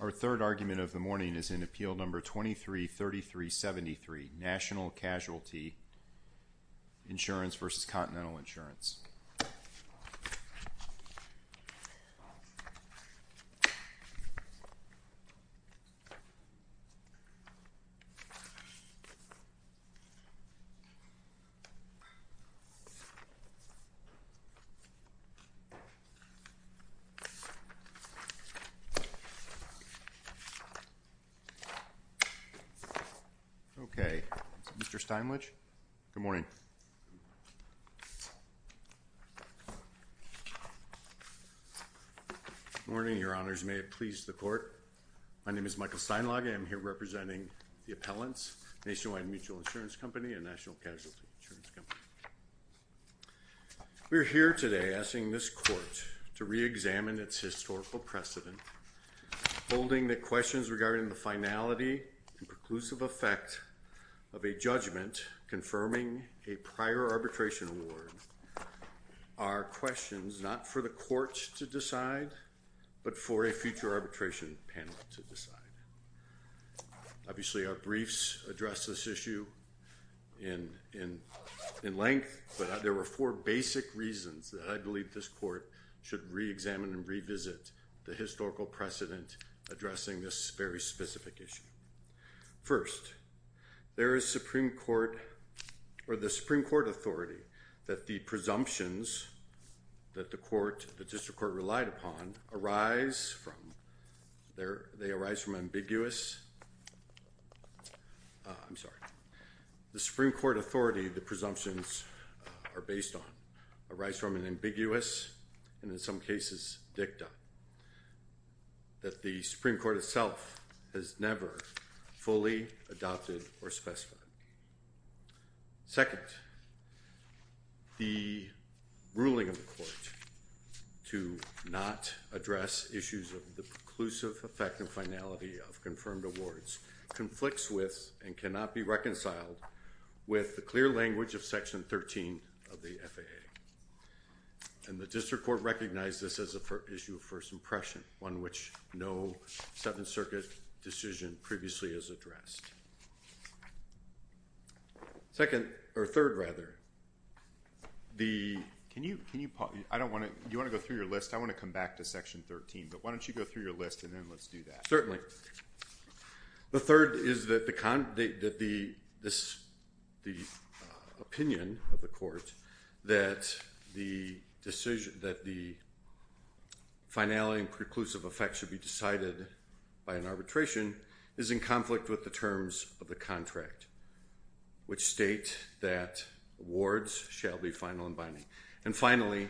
Our third argument of the morning is in Appeal Number 233373, National Casualty Insurance v. Continental Insurance. Okay, Mr. Steinlich, good morning. Good morning, Your Honors, may it please the Court. My name is Michael Steinlage. I am here representing the appellants, Nationwide Mutual Insurance Company and National Casualty Insurance Company. We are here today asking this Court to reexamine its historical precedent, holding that questions regarding the finality and preclusive effect of a judgment confirming a prior arbitration award are questions not for the Court to decide, but for a future arbitration panel to decide. Obviously, our briefs address this issue in length, but there were four basic reasons that I believe this Court should reexamine and revisit the historical precedent addressing this very specific issue. First, there is the Supreme Court authority that the presumptions that the District Court relied upon arise from. They arise from an ambiguous, I'm sorry, the Supreme Court authority the presumptions are based on arise from an ambiguous and in some cases dicta that the Supreme Court itself has never fully adopted or specified. Second, the ruling of the Court to not address issues of the preclusive effect and finality of confirmed awards conflicts with and cannot be reconciled with the clear language of Section 13 of the FAA. And the District Court recognized this as an issue of first impression, one which no Seventh Circuit decision previously has addressed. Second, or third rather, the, can you, can you, I don't want to, do you want to go through your list? I want to come back to Section 13, but why don't you go through your list and then let's do that. The third is that the opinion of the Court that the decision, that the finality and preclusive effect should be decided by an arbitration is in conflict with the terms of the contract, which state that awards shall be final and binding. And finally,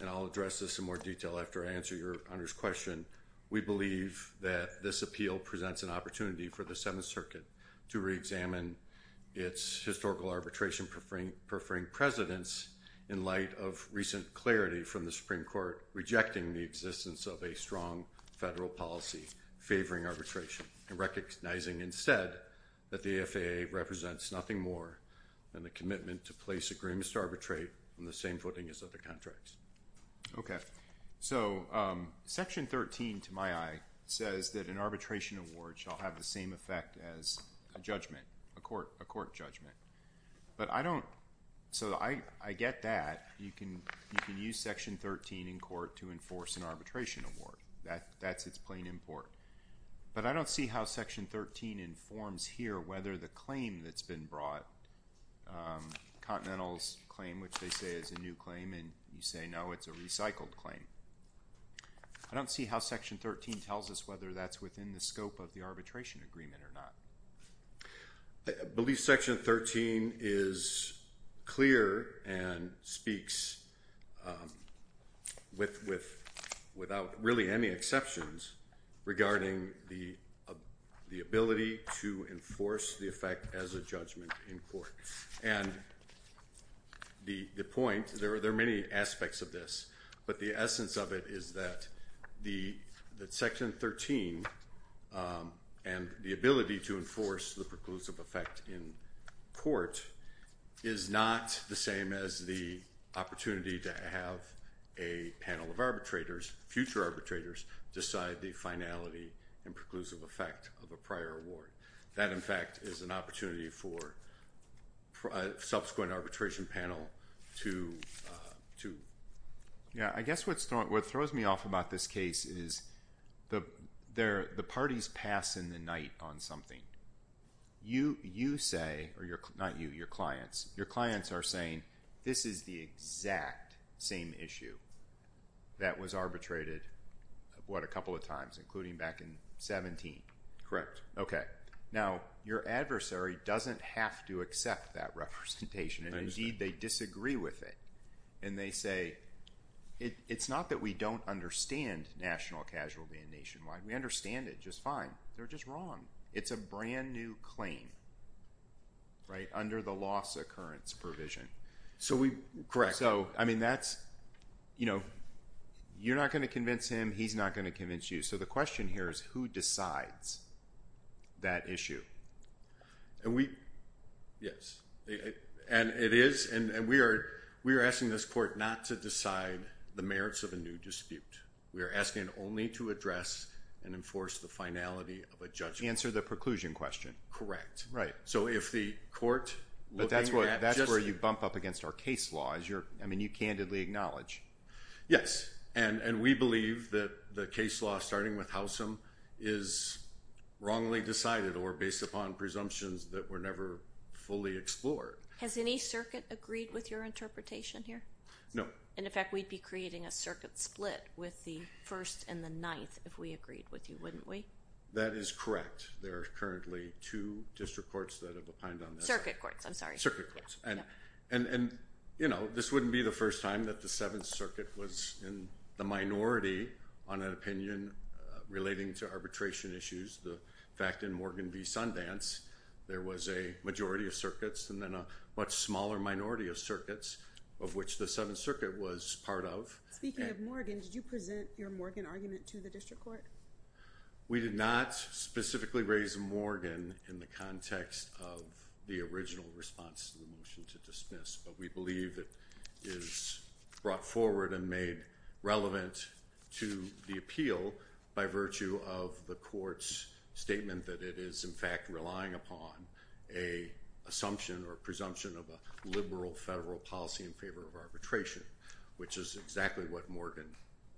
and I'll address this in more detail after I answer your Honor's question, we believe that this appeal presents an opportunity for the Seventh Circuit to reexamine its historical arbitration preferring presidents in light of recent clarity from the Supreme Court rejecting the existence of a strong federal policy favoring arbitration and recognizing instead that the FAA represents nothing more than the commitment to place agreements to arbitrate on the same footing as other contracts. Okay. So, Section 13, to my eye, says that an arbitration award shall have the same effect as a judgment, a court, a court judgment. But I don't, so I, I get that. You can, you can use Section 13 in court to enforce an arbitration award. That, that's its plain import. But I don't see how Section 13 informs here whether the claim that's been brought, Continental's claim, which they say is a new claim, and you say no, it's a recycled claim. I don't see how Section 13 tells us whether that's within the scope of the arbitration agreement or not. I believe Section 13 is clear and speaks with, without really any exceptions regarding the ability to enforce the effect as a judgment in court. And the, the point, there are, there are many aspects of this, but the essence of it is that the, that Section 13 and the ability to enforce the preclusive effect in court is not the same as the opportunity to have a panel of arbitrators, future arbitrators, decide the finality and preclusive effect of a prior award. That, in fact, is an opportunity for a subsequent arbitration panel to, to. Yeah, I guess what's, what throws me off about this case is the, there, the parties pass in the night on something. You, you say, or your, not you, your clients, your clients are saying this is the exact same issue that was arbitrated, what, a couple of times, including back in 17. Correct. Okay. Now, your adversary doesn't have to accept that representation. Indeed, they disagree with it. And they say, it, it's not that we don't understand national casualty and nationwide. We understand it just fine. They're just wrong. It's a brand new claim, right, under the loss occurrence provision. So we. Correct. So, I mean, that's, you know, you're not going to convince him, he's not going to convince you. So the question here is who decides that issue? And we. Yes. And it is, and we are, we are asking this court not to decide the merits of a new dispute. We are asking only to address and enforce the finality of a judgment. Answer the preclusion question. Right. So if the court. But that's where, that's where you bump up against our case law, as you're, I mean, you candidly acknowledge. Yes. And, and we believe that the case law starting with Howsam is wrongly decided or based upon presumptions that were never fully explored. Has any circuit agreed with your interpretation here? No. And in fact, we'd be creating a circuit split with the first and the ninth if we agreed with you, wouldn't we? That is correct. There are currently two district courts that have opined on this. Circuit courts. I'm sorry. And, and, and, you know, this wouldn't be the first time that the seventh circuit was in the minority on an opinion relating to arbitration issues. The fact in Morgan v. Sundance, there was a majority of circuits and then a much smaller minority of circuits of which the seventh circuit was part of. Speaking of Morgan, did you present your Morgan argument to the district court? We did not specifically raise Morgan in the context of the original response to the motion to dismiss, but we believe it is brought forward and made relevant to the appeal by virtue of the court's statement that it is, in fact, relying upon a assumption or presumption of a liberal federal policy in favor of arbitration, which is exactly what Morgan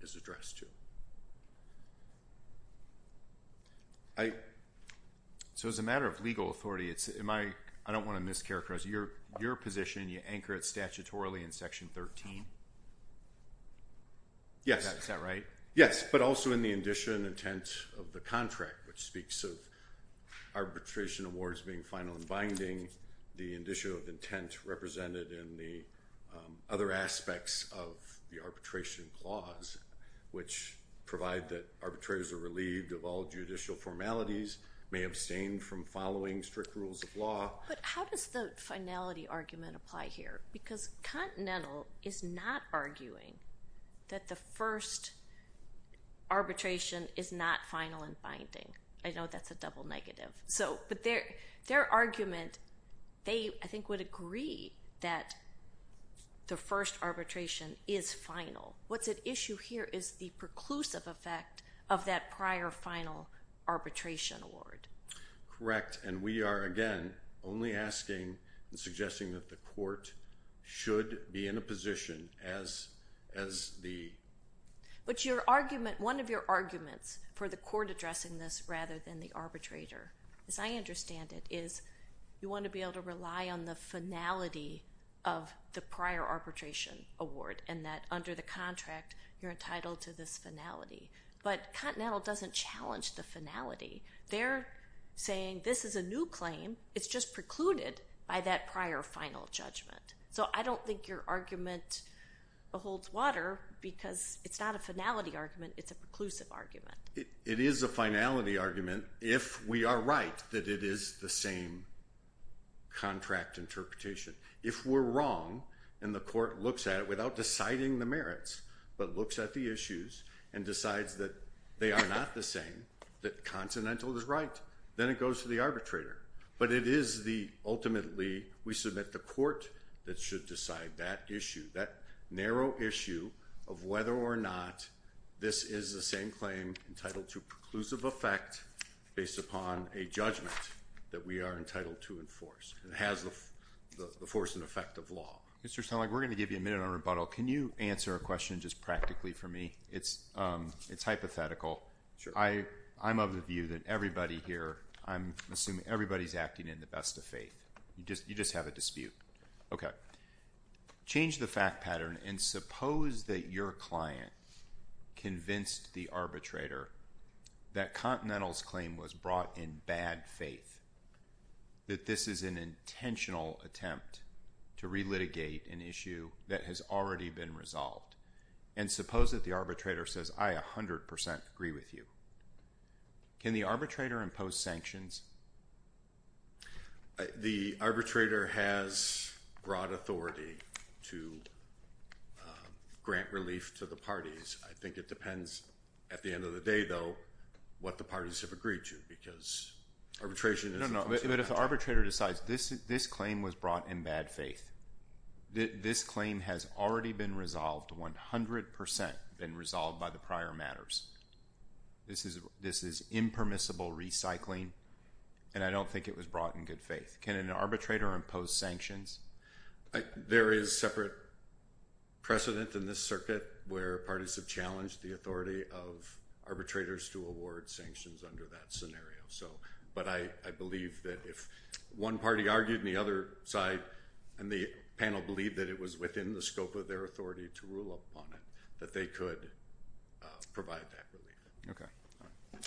is addressed to. So as a matter of legal authority, it's, am I, I don't want to mischaracterize, your, your position, you anchor it statutorily in section 13? Yes. Is that right? Yes. But also in the indition intent of the contract, which speaks of arbitration awards being final and binding, the indicio of intent represented in the other aspects of the arbitration clause, which provide that arbitrators are relieved of all judicial formalities, may abstain from following strict rules of law. But how does the finality argument apply here? Because Continental is not arguing that the first arbitration is not final and binding. I know that's a double negative. So, but their, their argument, they, I think, would agree that the first arbitration is final. What's at issue here is the preclusive effect of that prior final arbitration award. Correct. And we are, again, only asking and suggesting that the court should be in a position as, as the. But your argument, one of your arguments for the court addressing this rather than the arbitrator, as I understand it, is you want to be able to rely on the finality of the prior arbitration award, and that under the contract, you're entitled to this finality. But Continental doesn't challenge the finality. They're saying this is a new claim. It's just precluded by that prior final judgment. So I don't think your argument holds water because it's not a finality argument. It's a preclusive argument. It is a finality argument if we are right that it is the same contract interpretation. If we're wrong and the court looks at it without deciding the merits, but looks at the issues and decides that they are not the same, that Continental is right, then it goes to the arbitrator. But it is the, ultimately, we submit the court that should decide that issue, that narrow issue of whether or not this is the same claim entitled to preclusive effect based upon a judgment that we are entitled to enforce and has the force and effect of law. Mr. Snellack, we're going to give you a minute on rebuttal. Can you answer a question just practically for me? It's hypothetical. I'm of the view that everybody here, I'm assuming everybody's acting in the best of faith. You just have a dispute. Okay. Change the fact pattern and suppose that your client convinced the arbitrator that Continental's claim was brought in bad faith, that this is an intentional attempt to relitigate an issue that has already been resolved. And suppose that the arbitrator says, I 100% agree with you. Can the arbitrator impose sanctions? The arbitrator has broad authority to grant relief to the parties. I think it depends, at the end of the day, though, what the parties have agreed to because arbitration is an intentional attempt. No, no, but if the arbitrator decides this claim was brought in bad faith, this claim has already been resolved, 100% been resolved by the prior matters, this is impermissible recycling, and I don't think it was brought in good faith. Can an arbitrator impose sanctions? There is separate precedent in this circuit where parties have challenged the authority of arbitrators to award sanctions under that scenario. But I believe that if one party argued and the other side and the panel believed that it was within the scope of their authority to rule upon it, that they could provide that relief. Okay.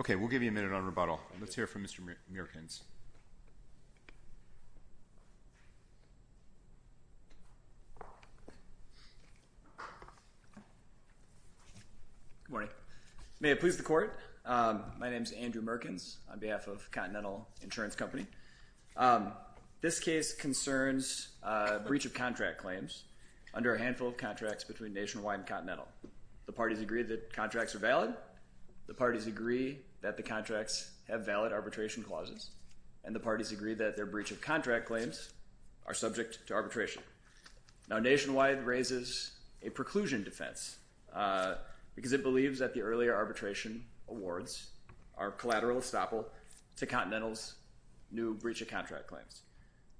Okay, we'll give you a minute on rebuttal. Let's hear from Mr. Merkins. Good morning. May it please the Court, my name is Andrew Merkins on behalf of Continental Insurance Company. This case concerns a breach of contract claims under a handful of contracts between Nationwide and Continental. The parties agree that contracts are valid. The parties agree that the contracts have valid arbitration clauses. And the parties agree that their breach of contract claims are subject to arbitration. Now, Nationwide raises a preclusion defense because it believes that the earlier arbitration awards are collateral estoppel to Continental's new breach of contract claims.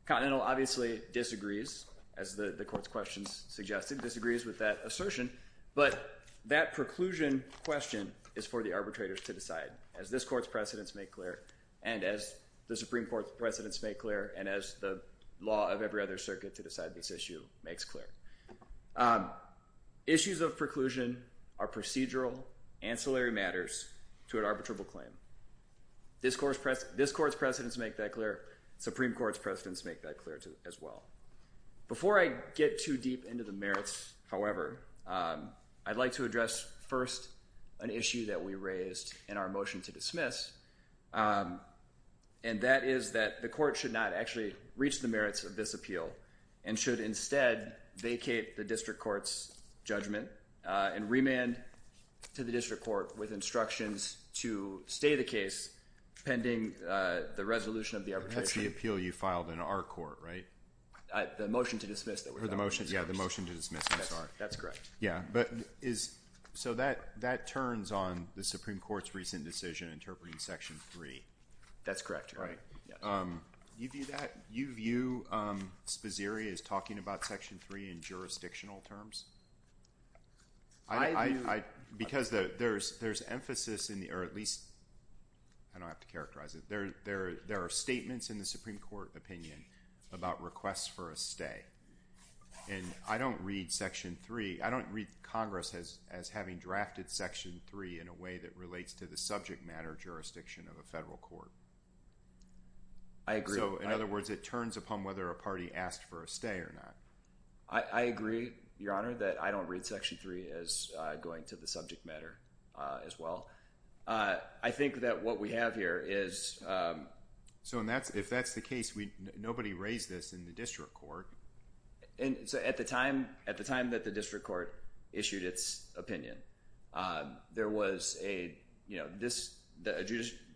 Continental obviously disagrees, as the Court's questions suggested, disagrees with that assertion. But that preclusion question is for the arbitrators to decide, as this Court's precedents make clear and as the Supreme Court's precedents make clear and as the law of every other circuit to decide this issue makes clear. Issues of preclusion are procedural, ancillary matters to an arbitrable claim. This Court's precedents make that clear. Supreme Court's precedents make that clear as well. Before I get too deep into the merits, however, I'd like to address first an issue that we raised in our motion to dismiss, and that is that the Court should not actually reach the merits of this appeal and should instead vacate the District Court's judgment and remand to the District Court with instructions to stay the case pending the resolution of the arbitration. That's the appeal you filed in our court, right? The motion to dismiss that we filed. Yeah, the motion to dismiss, I'm sorry. That's correct. Yeah. So that turns on the Supreme Court's recent decision interpreting Section 3. That's correct. Right. Do you view that? Do you view Spazzeri as talking about Section 3 in jurisdictional terms? I do. Because there's emphasis in the, or at least, I don't have to characterize it, but there are statements in the Supreme Court opinion about requests for a stay. And I don't read Section 3, I don't read Congress as having drafted Section 3 in a way that relates to the subject matter jurisdiction of a federal court. I agree. So, in other words, it turns upon whether a party asked for a stay or not. I agree, Your Honor, that I don't read Section 3 as going to the subject matter as well. I think that what we have here is... So if that's the case, nobody raised this in the district court. At the time that the district court issued its opinion, there was a, you know,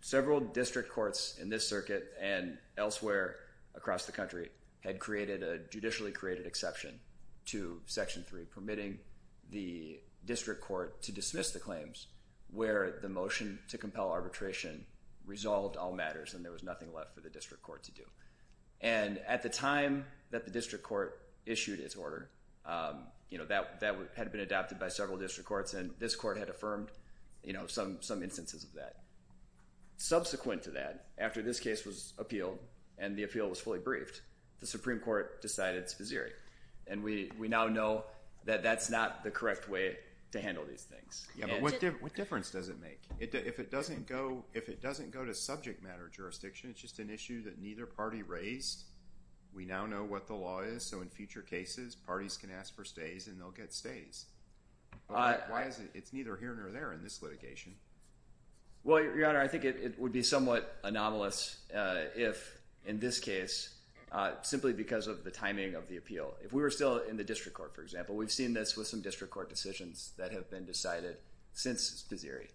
several district courts in this circuit and elsewhere across the country had created a judicially created exception to Section 3, permitting the district court to dismiss the claims where the motion to compel arbitration resolved all matters and there was nothing left for the district court to do. And at the time that the district court issued its order, you know, that had been adopted by several district courts and this court had affirmed, you know, some instances of that. Subsequent to that, after this case was appealed and the appeal was fully briefed, the Supreme Court decided Spazzeri. And we now know that that's not the correct way to handle these things. Yeah, but what difference does it make? If it doesn't go to subject matter jurisdiction, it's just an issue that neither party raised. We now know what the law is, so in future cases, parties can ask for stays and they'll get stays. Why is it it's neither here nor there in this litigation? Well, Your Honor, I think it would be somewhat anomalous if, in this case, simply because of the timing of the appeal. If we were still in the district court, for example, we've seen this with some district court decisions that have been decided since Spazzeri.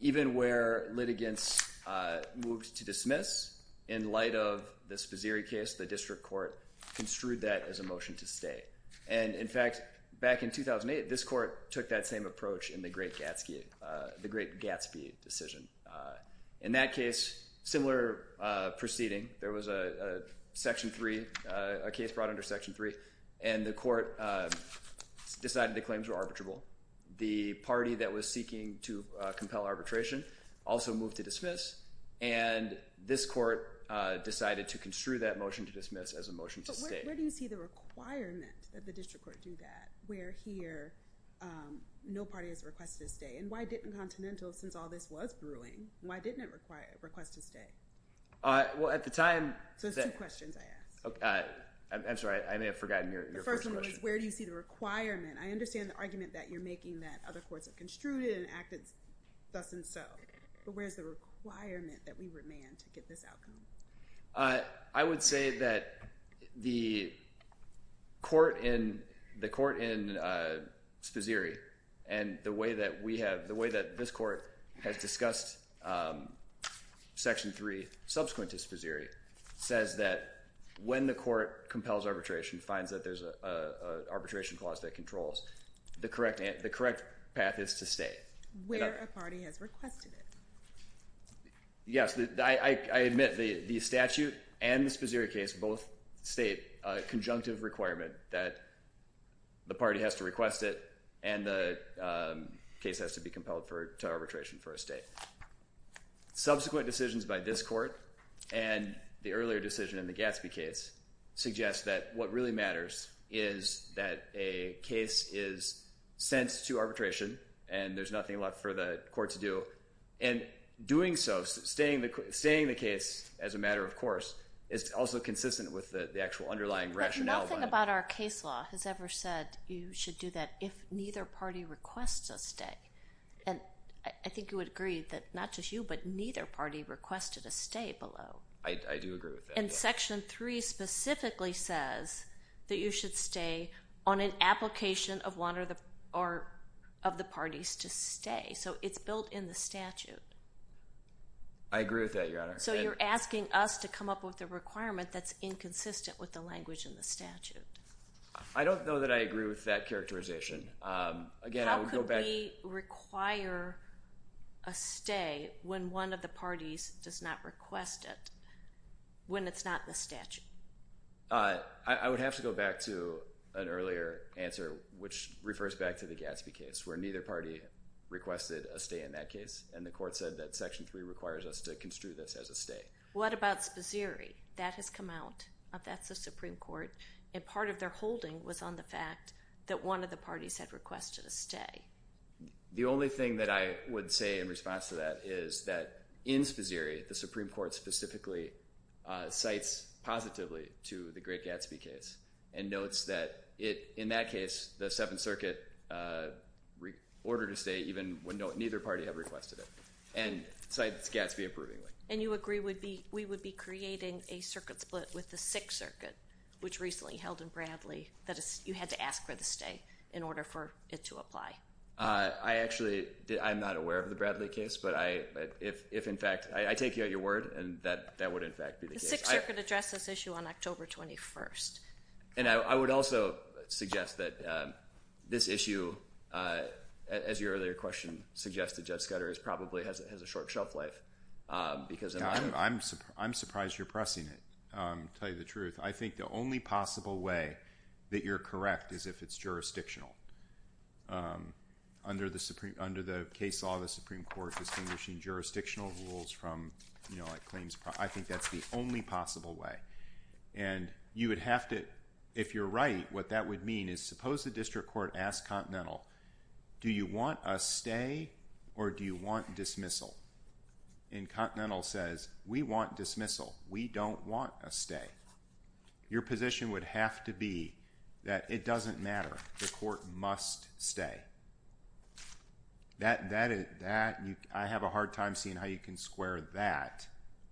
Even where litigants moved to dismiss in light of the Spazzeri case, the district court construed that as a motion to stay. And, in fact, back in 2008, this court took that same approach in the Great Gatsby decision. In that case, similar proceeding, there was a section 3, a case brought under section 3, and the court decided the claims were arbitrable. The party that was seeking to compel arbitration also moved to dismiss, and this court decided to construe that motion to dismiss as a motion to stay. But where do you see the requirement that the district court do that, where here no party has requested a stay? And why didn't Continental, since all this was brewing, why didn't it request a stay? Well, at the time— So there's two questions I asked. I'm sorry. I may have forgotten your first question. The first one was where do you see the requirement? I understand the argument that you're making that other courts have construed it and acted thus and so, but where's the requirement that we remand to get this outcome? I would say that the court in Sposiri and the way that we have— the way that this court has discussed section 3 subsequent to Sposiri says that when the court compels arbitration, finds that there's an arbitration clause that controls, the correct path is to stay. Where a party has requested it. Yes, I admit the statute and the Sposiri case both state a conjunctive requirement that the party has to request it and the case has to be compelled to arbitration for a stay. Subsequent decisions by this court and the earlier decision in the Gatsby case suggest that what really matters is that a case is sent to arbitration and there's nothing left for the court to do. And doing so, staying the case as a matter of course, is also consistent with the actual underlying rationale. Nothing about our case law has ever said you should do that if neither party requests a stay. And I think you would agree that not just you, but neither party requested a stay below. I do agree with that. And section 3 specifically says that you should stay on an application of one of the parties to stay. So it's built in the statute. I agree with that, Your Honor. So you're asking us to come up with a requirement that's inconsistent with the language in the statute. I don't know that I agree with that characterization. How could we require a stay when one of the parties does not request it when it's not in the statute? I would have to go back to an earlier answer which refers back to the Gatsby case where neither party requested a stay in that case. And the court said that section 3 requires us to construe this as a stay. What about Spazzeri? That has come out. That's the Supreme Court. And part of their holding was on the fact that one of the parties had requested a stay. The only thing that I would say in response to that is that in Spazzeri, the Supreme Court specifically cites positively to the great Gatsby case and notes that in that case the Seventh Circuit ordered a stay even when neither party had requested it. And cites Gatsby approvingly. And you agree we would be creating a circuit split with the Sixth Circuit, which recently held in Bradley, that you had to ask for the stay in order for it to apply. I actually am not aware of the Bradley case, but I take you at your word, and that would in fact be the case. The Sixth Circuit addressed this issue on October 21st. And I would also suggest that this issue, as your earlier question suggested, Judge Scudder, probably has a short shelf life. I'm surprised you're pressing it, to tell you the truth. I think the only possible way that you're correct is if it's jurisdictional. Under the case law, the Supreme Court distinguishing jurisdictional rules from claims. I think that's the only possible way. And you would have to, if you're right, what that would mean is suppose the district court asked Continental, do you want a stay or do you want dismissal? And Continental says, we want dismissal. We don't want a stay. Your position would have to be that it doesn't matter. The court must stay. I have a hard time seeing how you can square that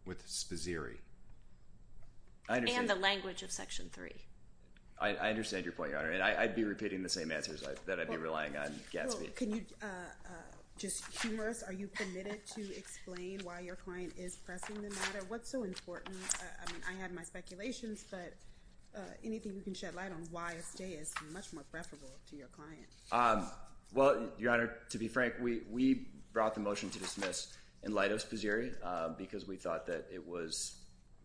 with Spaziri. And the language of Section 3. I understand your point, Your Honor, and I'd be repeating the same answers that I'd be relying on Gatsby. Can you, just humorous, are you permitted to explain why your client is pressing the matter? What's so important? I mean, I had my speculations, but anything you can shed light on why a stay is much more preferable to your client. Well, Your Honor, to be frank, we brought the motion to dismiss in light of Spaziri, because we thought that it was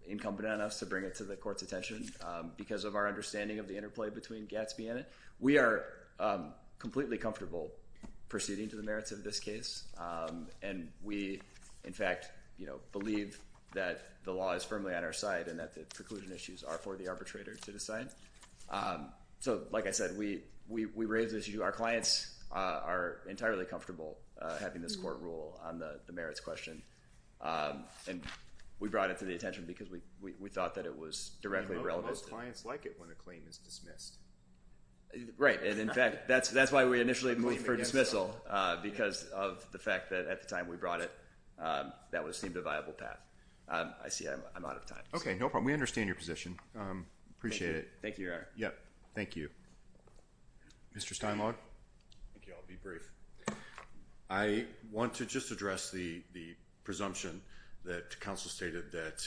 incumbent on us to bring it to the court's attention because of our understanding of the interplay between Gatsby and it. We are completely comfortable proceeding to the merits of this case. And we, in fact, you know, believe that the law is firmly on our side and that the preclusion issues are for the arbitrator to decide. So, like I said, we raise this issue. Our clients are entirely comfortable having this court rule on the merits question. And we brought it to the attention because we thought that it was directly relevant. Most clients like it when a claim is dismissed. Right. And, in fact, that's why we initially moved for dismissal, because of the fact that at the time we brought it, that would have seemed a viable path. I see I'm out of time. Okay. No problem. We understand your position. Appreciate it. Thank you, Your Honor. Yep. Thank you. Mr. Steinlog? Thank you. I'll be brief. I want to just address the presumption that counsel stated that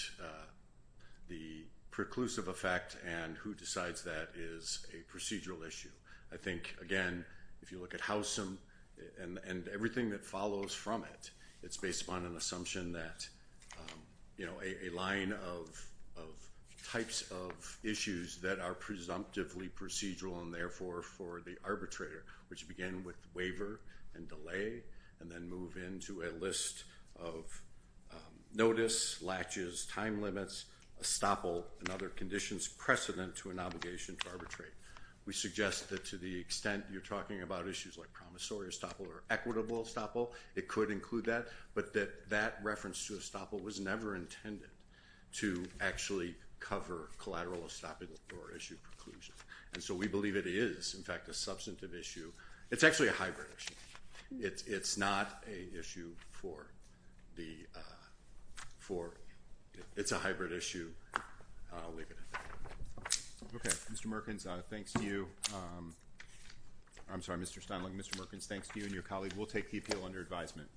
the preclusive effect and who decides that is a procedural issue. I think, again, if you look at Howsam and everything that follows from it, it's based upon an assumption that, you know, a line of types of issues that are presumptively procedural and, therefore, for the arbitrator, which begin with waiver and delay and then move into a list of notice, latches, time limits, estoppel, and other conditions precedent to an obligation to arbitrate. We suggest that to the extent you're talking about issues like promissory estoppel or equitable estoppel, it could include that, but that that reference to estoppel was never intended to actually cover collateral estoppel or issue preclusion. And so we believe it is, in fact, a substantive issue. It's actually a hybrid issue. It's not an issue for the – it's a hybrid issue. I'll leave it at that. Okay. Mr. Merkins, thanks to you. I'm sorry, Mr. Steinle. Mr. Merkins, thanks to you and your colleague. We'll take PPL under advisement.